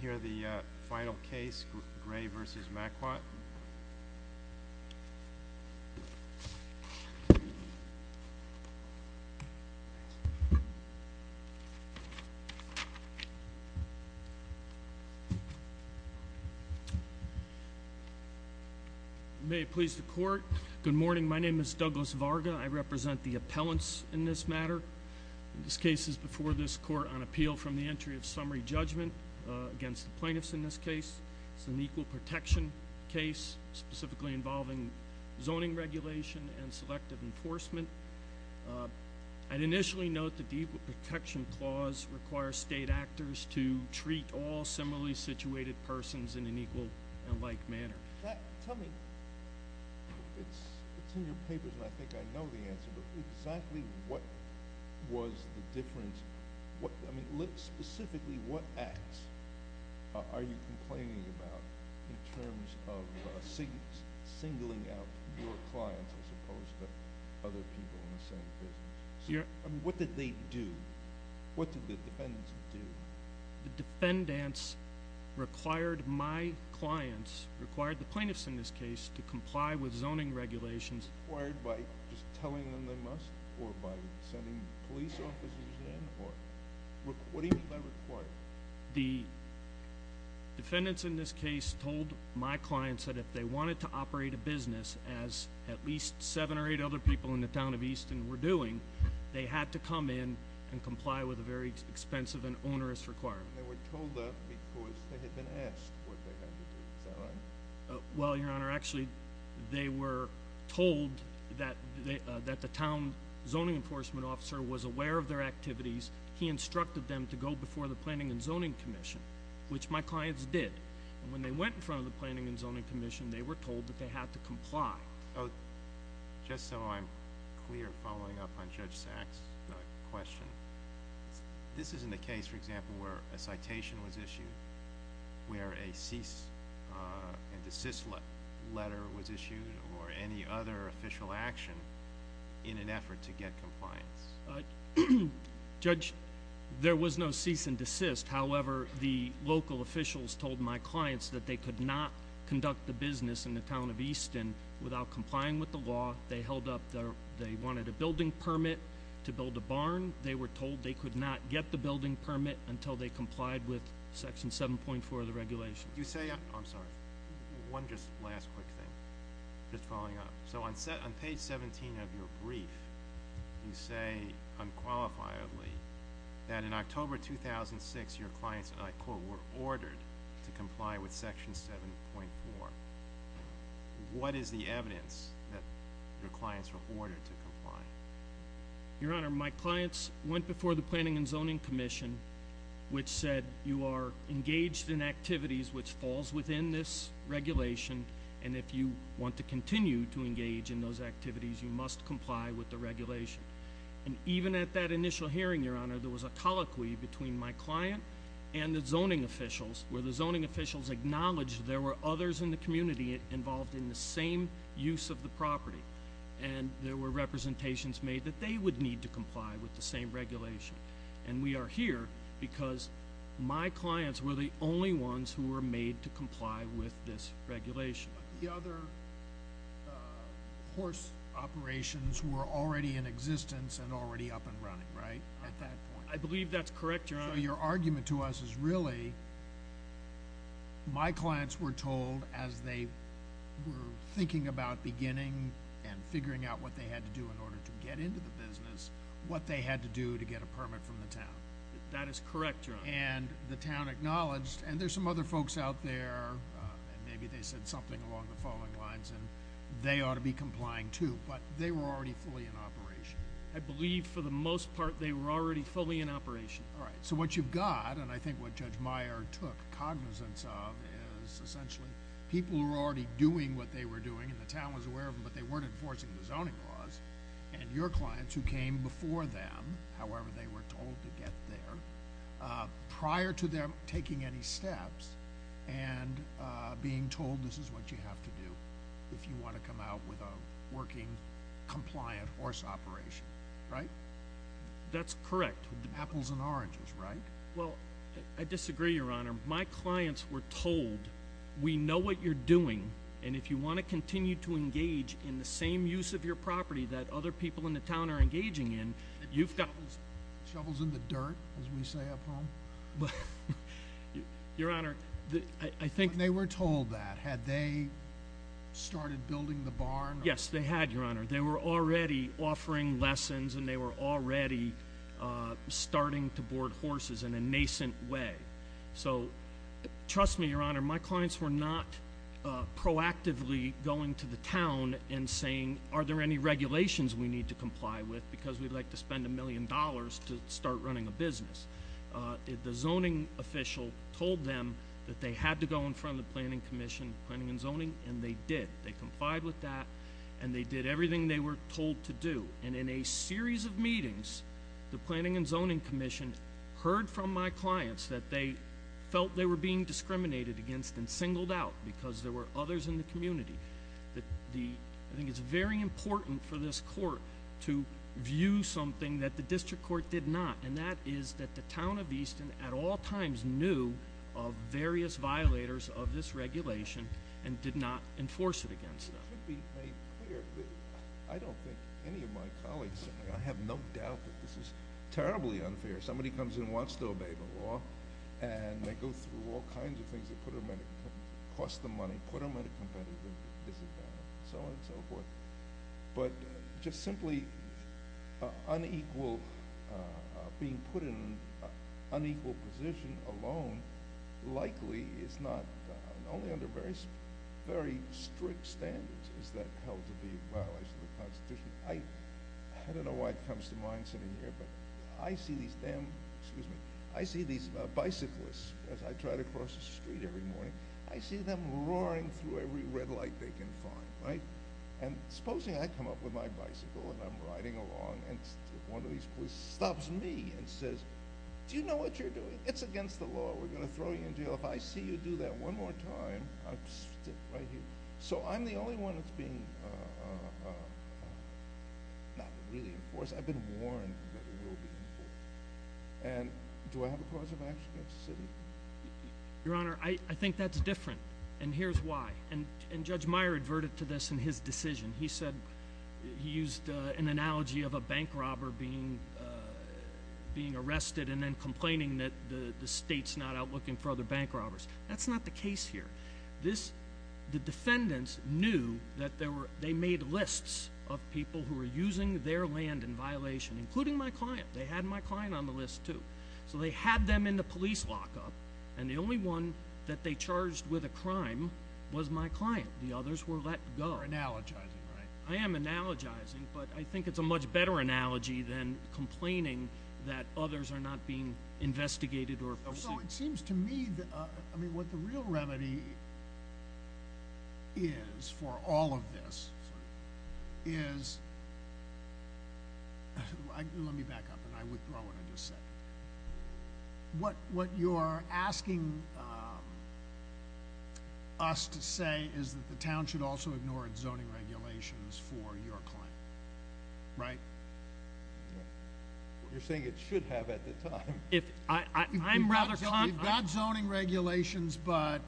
Here are the final case, Gray v. Maquat. May it please the court. Good morning, my name is Douglas Varga. I represent the appellants in this matter. This case is before this court on the entry of summary judgment against the plaintiffs in this case. It's an equal protection case, specifically involving zoning regulation and selective enforcement. I'd initially note that the equal protection clause requires state actors to treat all similarly situated persons in an equal and like manner. Tell me, it's in your papers and I think I know the answer, but exactly what was the specifically what acts are you complaining about in terms of singling out your clients as opposed to other people in the same business? What did they do? What did the defendants do? The defendants required my clients, required the plaintiffs in this case, to comply with zoning regulations. By just telling them they must or by sending police officers in What do you mean by required? The defendants in this case told my clients that if they wanted to operate a business as at least seven or eight other people in the town of Easton were doing, they had to come in and comply with a very expensive and onerous requirement. They were told that because they had been asked what they had to do. Is that right? Well, your honor, actually they were told that the town zoning enforcement officer was aware of their activities. He instructed them to go before the Planning and Zoning Commission, which my clients did. When they went in front of the Planning and Zoning Commission, they were told that they had to comply. Just so I'm clear following up on Judge Sachs' question this isn't a case, for example, where a citation was issued where a cease and desist letter was issued or any other official action in an effort to get compliance. Judge, there was no cease and desist. However, the local officials told my clients that they could not conduct the business in the town of Easton without complying with the law. They held up, they wanted a building permit to build a barn. They were told they could not get the building permit until they complied with section 7.4 of the regulation. I'm sorry, one last quick thing. Just following up. So on page 17 of your brief you say unqualifiedly that in October 2006 your clients, and I quote, were ordered to comply with section 7.4. What is the evidence that your clients were ordered to comply? Your honor, my clients went before the Planning and Zoning Commission which said you are engaged in activities which falls within this regulation and if you want to continue to engage in those activities you must comply with the regulation. And even at that initial hearing, your honor, there was a colloquy between my client and the zoning officials where the zoning officials acknowledged there were others in the community involved in the same use of the property. And there were representations made that they would need to comply with the same regulation. And we are here because my clients were the only ones who were made to comply with this regulation. The other horse operations were already in existence and already up and running, right? I believe that's correct, your honor. So your argument to us is really my clients were told as they were thinking about beginning and figuring out what they had to do in order to get into the business what they had to do to get a permit from the town. That is correct, your honor. And the town acknowledged, and there's some other folks out there and maybe they said something along the following lines and they ought to be complying too, but they were already fully in operation. I believe for the most part they were already fully in operation. Alright, so what you've got and I think what Judge Meyer took cognizance of is essentially people who were already doing what they were doing and the town was aware of them but they weren't enforcing the zoning laws and your clients who came before them, however they were told to get there, prior to them taking any steps and being told this is what you have to do if you want to come out with a working, compliant horse operation. Right? That's correct. Apples and oranges, right? Well, I disagree, your honor. My clients were told we know what you're doing and if you want to continue to engage in the same use of your property that other people in the town are engaging in Shovels in the dirt, as we say up home. Your honor, I think They were told that. Had they started building the barn? Yes, they had, your honor. They were already offering lessons and they were already starting to board horses in a nascent way. So, trust me, your honor, my clients were not proactively going to the town and saying are there any regulations we need to comply with because we'd like to spend a million dollars to start running a business. The zoning official told them that they had to go in front of the Planning and Zoning Commission and they did. They complied with that and they did everything they were told to do. And in a series of meetings, the Planning and Zoning Commission heard from my clients that they felt they were being discriminated against and singled out because there were others in the community. I think it's very important for this court to view something that the district court did not and that is that the town of Easton at all times knew of various violators of this regulation and did not enforce it against them. To be made clear, I don't think any of my colleagues I have no doubt that this is terribly unfair. Somebody comes in and wants to obey the law and they go through all kinds of things that cost them money and put them at a competitive disadvantage and so on and so forth. But just simply being put in an unequal position alone likely is not, only under very strict standards is that held to be a violation of the Constitution. I don't know why it comes to mind sitting here, but I see these bicyclists as I try to cross the street every morning. I see them roaring through every red light they can find. Supposing I come up with my bicycle and I'm riding along and one of these police stops me and says, do you know what you're doing? It's against the law. We're going to throw you in jail. If I see you do that one more time I'll just sit right here. So I'm the only one that's being not really enforced. I've been warned that it will be enforced. Do I have a cause of action against the city? Your Honor, I think that's different and here's why. And Judge Meyer adverted to this in his decision. He said he used an analogy of a bank robber being arrested and then complaining that the state's not out looking for other bank robbers. That's not the case here. The defendants knew that they made lists of people who were using their land in violation, including my client. They had my client on the list too. So they had them in the police lockup and the only one that they charged with a crime was my client. The others were let go. You're analogizing, right? I am analogizing, but I think it's a much better analogy than complaining that others are not being investigated or pursued. So it seems to me that what the real remedy is for all of this is... Let me back up and I withdraw what I just said. What you're asking us to say is that the town should also ignore its zoning regulations for your client, right? You're saying it should have at the time. We've got zoning regulations, but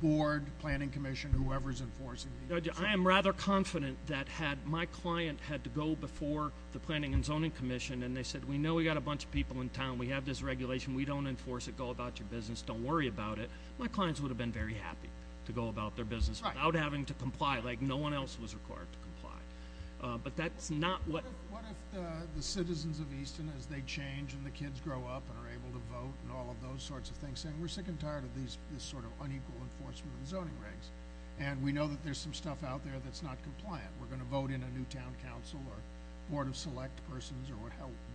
board, planning commission, whoever's enforcing these... I am rather confident that had my client had to go before the planning and zoning commission and they said we know we've got a bunch of people in town. We have this regulation. We don't enforce it. Go about your business. Don't worry about it. My clients would have been very happy to go about their business without having to comply like no one else was required to comply. But that's not what... What if the citizens of Easton, as they change and the kids grow up and are able to vote and all of those sorts of things, saying we're sick and tired of this sort of unequal enforcement of the zoning regs. And we know that there's some stuff out there that's not compliant. We're going to vote in a new town council or board of select persons or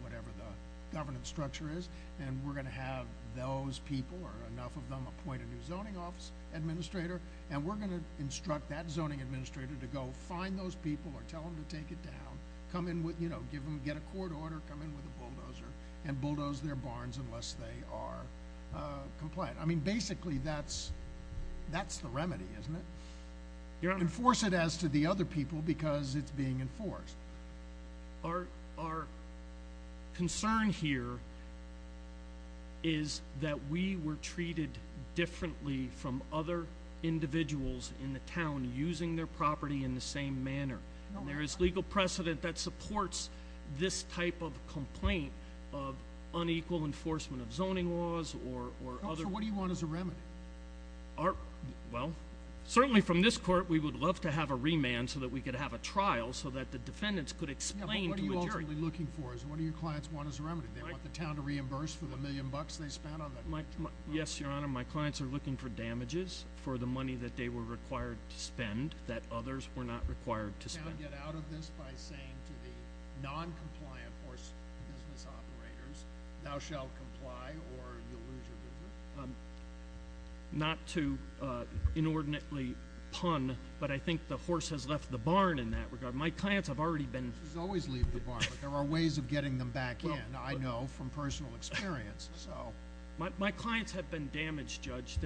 whatever the governance structure is and we're going to have those people or enough of them appoint a new zoning office administrator and we're going to instruct that zoning administrator to go find those people or tell them to take it down. Get a court order. Come in with a bulldozer and bulldoze their barns unless they are compliant. I mean basically that's the enforcement as to the other people because it's being enforced. Our concern here is that we were treated differently from other individuals in the town using their property in the same manner. There is legal precedent that supports this type of complaint of unequal enforcement of zoning laws or other... So what do you want as a remedy? Well, certainly from this court we would love to have a remand so that we could have a trial so that the defendants could explain to a jury. What are you ultimately looking for? What do your clients want as a remedy? They want the town to reimburse for the million bucks they spent on that? Yes, your honor. My clients are looking for damages for the money that they were required to spend that others were not required to spend. Can the town get out of this by saying to the non-compliant or business operators, thou shalt comply or you'll not to inordinately pun, but I think the horse has left the barn in that regard. My clients have already been... Horses always leave the barn but there are ways of getting them back in, I know, from personal experience. My clients have been damaged, Judge,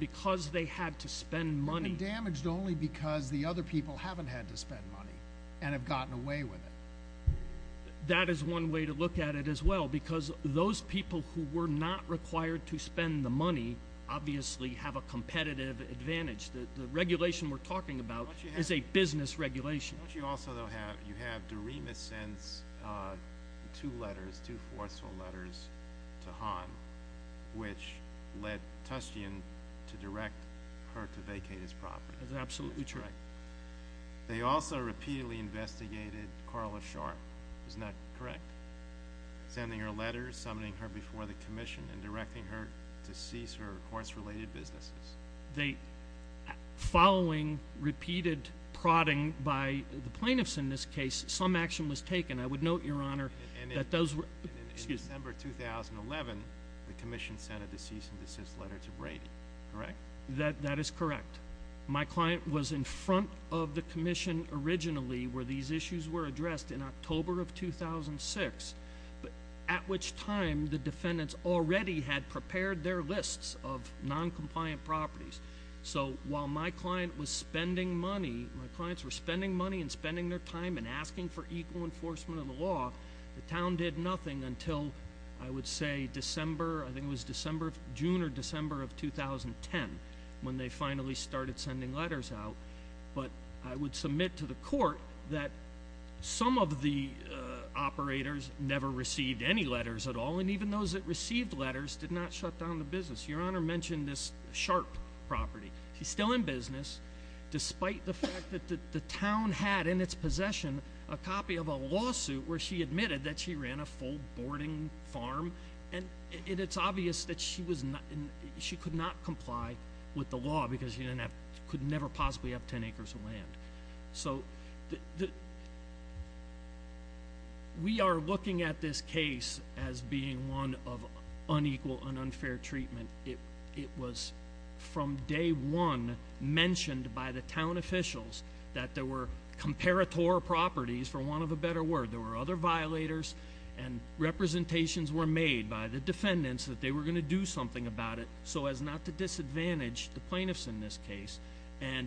because they had to spend money. They've been damaged only because the other people haven't had to spend money and have gotten away with it. That is one way to look at it as well because those people who were not required to spend the money obviously have a competitive advantage. The regulation we're talking about is a business regulation. Don't you also have, you have, Doremus sends two letters, two forceful letters to Han which led Tustian to direct her to vacate his property. That's absolutely correct. They also repeatedly investigated Carla Sharp. Isn't that correct? Sending her letters, summoning her before the commission and directing her to cease her horse-related businesses. They, following repeated prodding by the plaintiffs in this case, some action was taken. I would note, Your Honor, that those were... In December 2011 the commission sent a cease and desist letter to Brady, correct? That is correct. My client was in front of the commission originally where these issues were addressed in October of 2006 at which time the defendants already had prepared their lists of non-compliant properties. So while my client was spending money, my clients were spending money and spending their time and asking for equal enforcement of the law, the town did nothing until I would say December, I think it was December, June or December of 2010 when they finally started sending letters out. But I would submit to the court that some of the operators never received any letters at all and even those that received letters did not shut down the business. Your Honor mentioned this Sharp property. She's still in business despite the fact that the town had in its possession a copy of a lawsuit where she admitted that she ran a full boarding farm and it's obvious that she could not comply with the law because she could never possibly have 10 acres of land. So we are looking at this case as being one of unequal and unfair treatment. It was from day one mentioned by the town officials that there were comparator properties for want of a better word. There were other violators and representations were made by the defendants that they were going to do something about it so as not to disadvantage the plaintiffs in this case and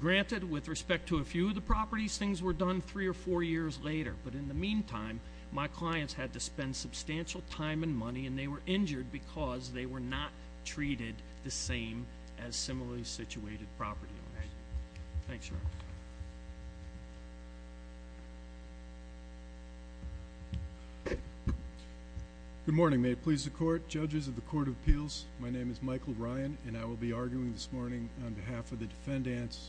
granted with respect to a few of the properties things were done three or four years later but in the meantime my clients had to spend substantial time and money and they were injured because they were not treated the same as similarly situated property owners. Thanks, Your Honor. Good morning. May it please the court. Judges of the Court of Appeals, my name is Michael Ryan and I will be arguing this morning on behalf of the defendants.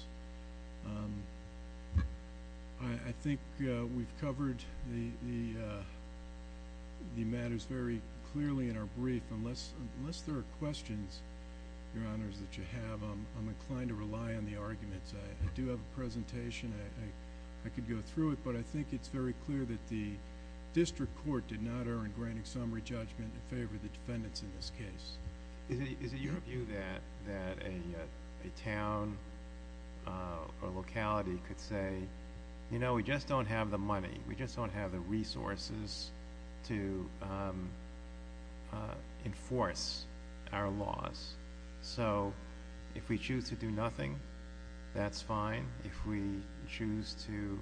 I think we've covered the matters very clearly in our brief unless there are questions, Your Honors, that you have I'm inclined to rely on the arguments. I do have a presentation I could go through it but I think it's very clear that the District Court did not err in granting summary judgment in favor of the defendants in this case. Is it your view that a town or locality could say, you know, we just don't have the money, we just don't have the resources to enforce our laws so if we choose to do nothing, that's fine. If we choose to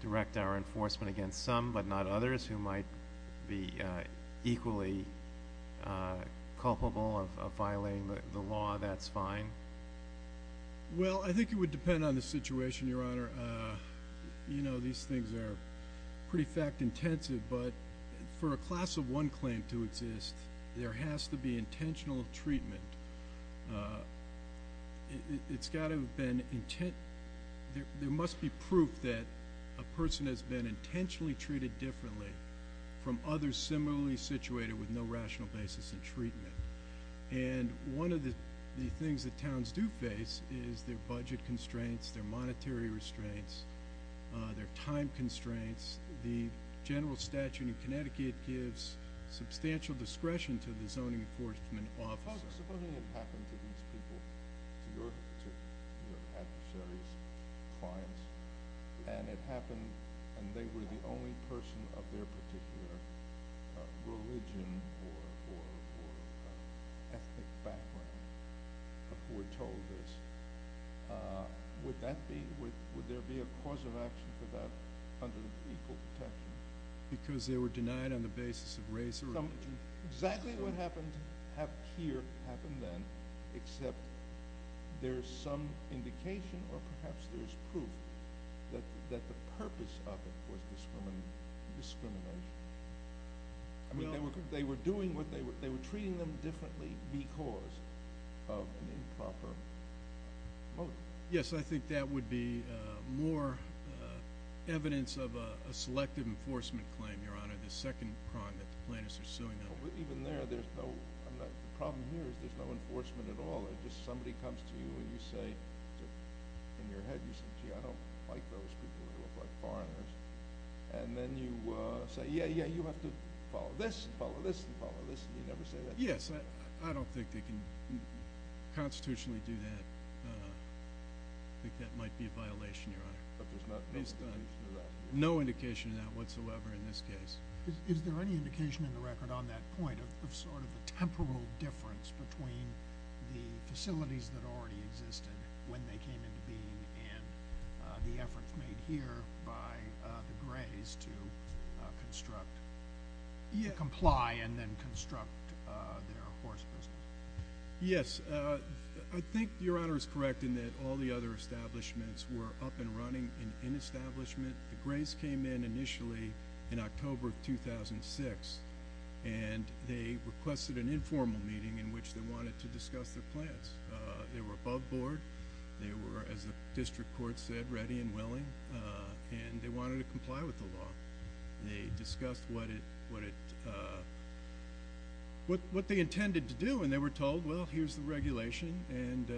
direct our enforcement against some but not others who might be equally culpable of violating the law that's fine? Well, I think it would depend on the situation, Your Honor. You know, these things are pretty fact-intensive but for a class of one claim to exist there has to be intentional treatment. It's got to have been intent there must be proof that a person has been intentionally treated differently from others similarly situated with no rational basis in treatment and one of the things that towns do face is their budget constraints, their monetary restraints, their time constraints. The general statute in Connecticut gives substantial discretion to the zoning enforcement officers. Supposing it happened to these people, to your adversaries, clients, and it happened and they were the only person of their particular religion or ethnic background who were told this, would there be a cause of action for that under the equal protection? Because they were denied on the basis of race or religion. Exactly what happened here happened then except there's some indication or perhaps there's proof that the purpose of it was discrimination. I mean, they were doing what they were treating them differently because of an improper motive. Yes, I think that would be more evidence of a selective enforcement claim, Your Honor, the second crime that the plaintiffs are suing. Even there, there's no the problem here is there's no enforcement at all. It's just somebody comes to you and you say in your head, you say, gee, I don't like those people who look like foreigners. And then you say, yeah, yeah, you have to follow this and follow this and follow this, and you never say that. Yes, I don't think they can constitutionally do that. I think that might be a violation, Your Honor. But there's no indication of that? No indication of that whatsoever in this case. Is there any indication in the record on that point of sort of a temporal difference between the facilities that already existed when they came into being and the efforts made here by the Grays to construct, to comply and then construct their horse business? Yes, I think Your Honor is correct in that all the other establishments were up and running in establishment. The Grays came in initially in October of 2006 and they requested an informal meeting in which they wanted to discuss their plans. They were above board. They were as the district court said, ready and willing and they wanted to comply with the law. They discussed what it what they intended to do and they were told, well, here's the regulation and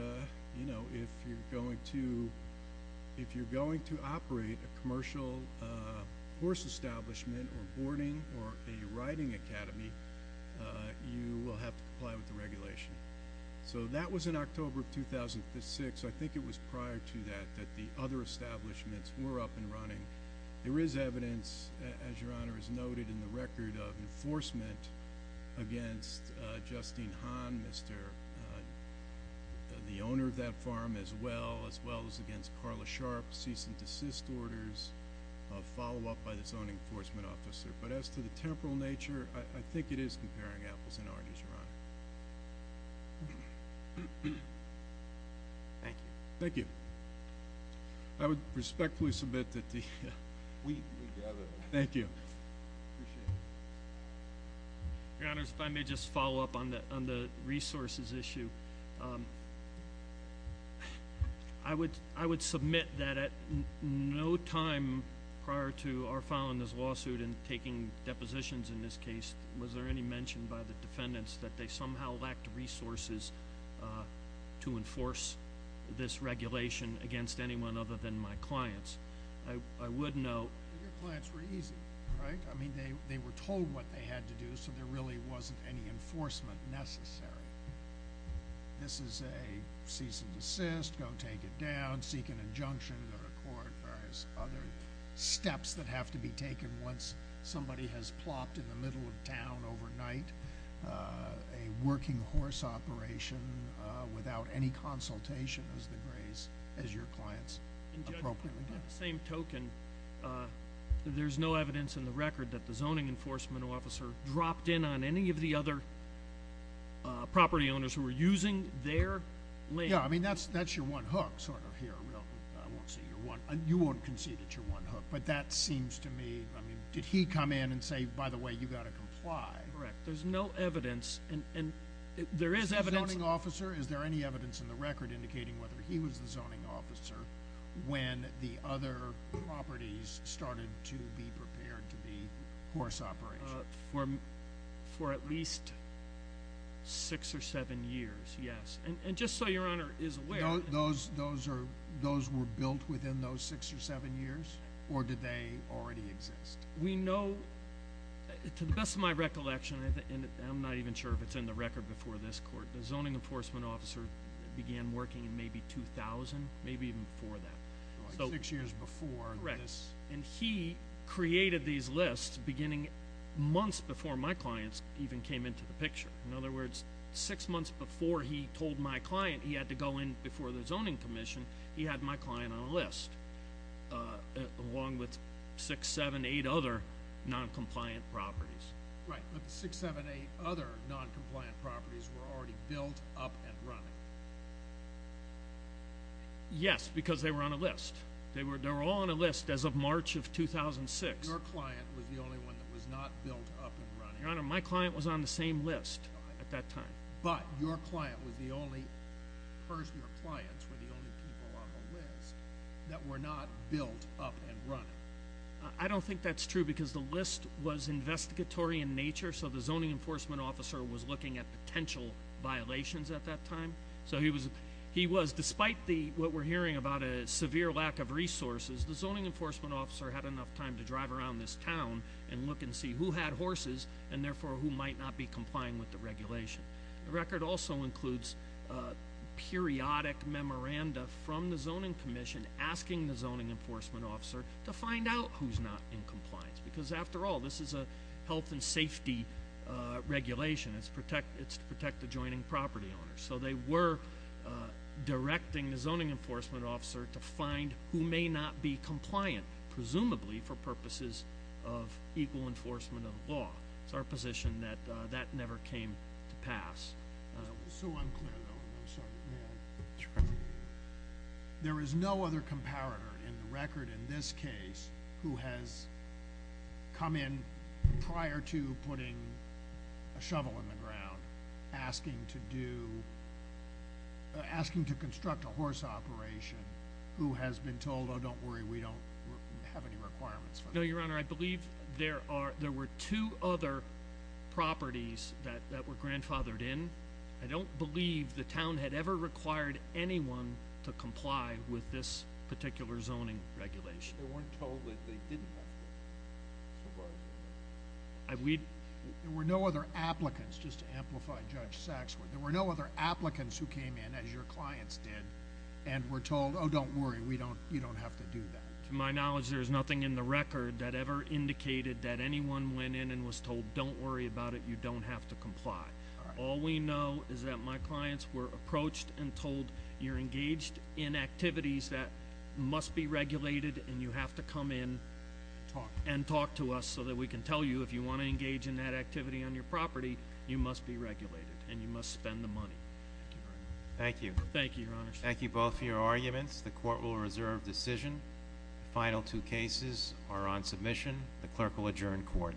if you're going to if you're going to operate a commercial horse establishment or boarding or a riding academy you will have to comply with the regulation. So that was in October of 2006. I think it was prior to that that the other establishments were up and running. There is evidence as Your Honor has noted in the record of enforcement against Justine Hahn, the owner of that farm, as well as against Carla Sharp's cease and desist orders, follow up by the zoning enforcement officer. But as to the temporal nature, I think it is comparing apples and oranges, Your Honor. Thank you. Thank you. I would respectfully submit that We gather. Thank you. Your Honor, if I may just follow up on the resources issue. I would submit that at no time prior to before filing this lawsuit and taking depositions in this case was there any mention by the defendants that they somehow lacked resources to enforce this regulation against anyone other than my clients. I would note I mean they were told what they had to do so there really wasn't any enforcement necessary. This is a cease and desist, go take it down, seek an injunction in the court as far as other steps that have to be taken once somebody has plopped in the middle of town overnight a working horse operation without any consultation as the graze as your clients appropriately did. In the same token there's no evidence in the record that the zoning enforcement officer dropped in on any of the other property owners who were using their land. Yeah, I mean that's your one hook sort of here, I won't say you're one, you won't concede that you're one hook but that seems to me, I mean did he come in and say by the way you've got to comply? Correct, there's no evidence and there is evidence. Is the zoning officer is there any evidence in the record indicating whether he was the zoning officer when the other properties started to be prepared to be horse operation? For at least six or seven years, yes. And just so your Honor is aware. Those were built within those six or seven years or did they already exist? We know to the best of my recollection and I'm not even sure if it's in the record before this court, the zoning enforcement officer began working in maybe 2000, maybe even before that. Six years before. Correct. And he created these lists beginning months before my clients even came into the picture. In other words, six months before he told my client he had to go in before the zoning commission he had my client on a list along with six, seven, eight other non-compliant properties. Right, but the six, seven, eight other non-compliant properties were already built up and running. Yes, because they were on a list. They were all on a list as of March of 2006. Your client was the only one that was not built up and running. Your Honor, my client was on the same list at that time. But your client was the only person your clients were the only people on the list that were not built up and running. I don't think that's true because the list was investigatory in nature so the zoning enforcement officer was looking at potential violations at that time. So he was, despite the what we're hearing about a severe lack of resources, the zoning enforcement officer had enough time to drive around this town and look and see who had horses and therefore who might not be complying with the regulation. The record also includes periodic memoranda from the zoning commission asking the zoning enforcement officer to find out who's not in compliance because after all this is a health and safety regulation. It's to protect the joining property owners. So they were directing the zoning enforcement officer to find who may not be compliant, presumably for purposes of equal enforcement of the law. It's our position that that never came to pass. There is no other comparator in the record in this case who has come in prior to putting a shovel in the ground asking to do, asking to construct a horse operation who has been told, oh don't worry we don't have any there were two other properties that were grandfathered in. I don't believe the town had ever required anyone to comply with this particular zoning regulation. They weren't told that they didn't have to. There were no other applicants, just to amplify Judge Saksworth, there were no other applicants who came in as your clients did and were told, oh don't worry you don't have to do that. To my knowledge there is nothing in the record that ever indicated that anyone went in and was told don't worry about it you don't have to comply. All we know is that my clients were approached and told you're engaged in activities that must be regulated and you have to come in and talk to us so that we can tell you if you want to engage in that activity on your property you must be regulated and you must spend the money. Thank you. Thank you both for your arguments. The court will reserve decision. The final two cases are on submission. The clerk will adjourn court.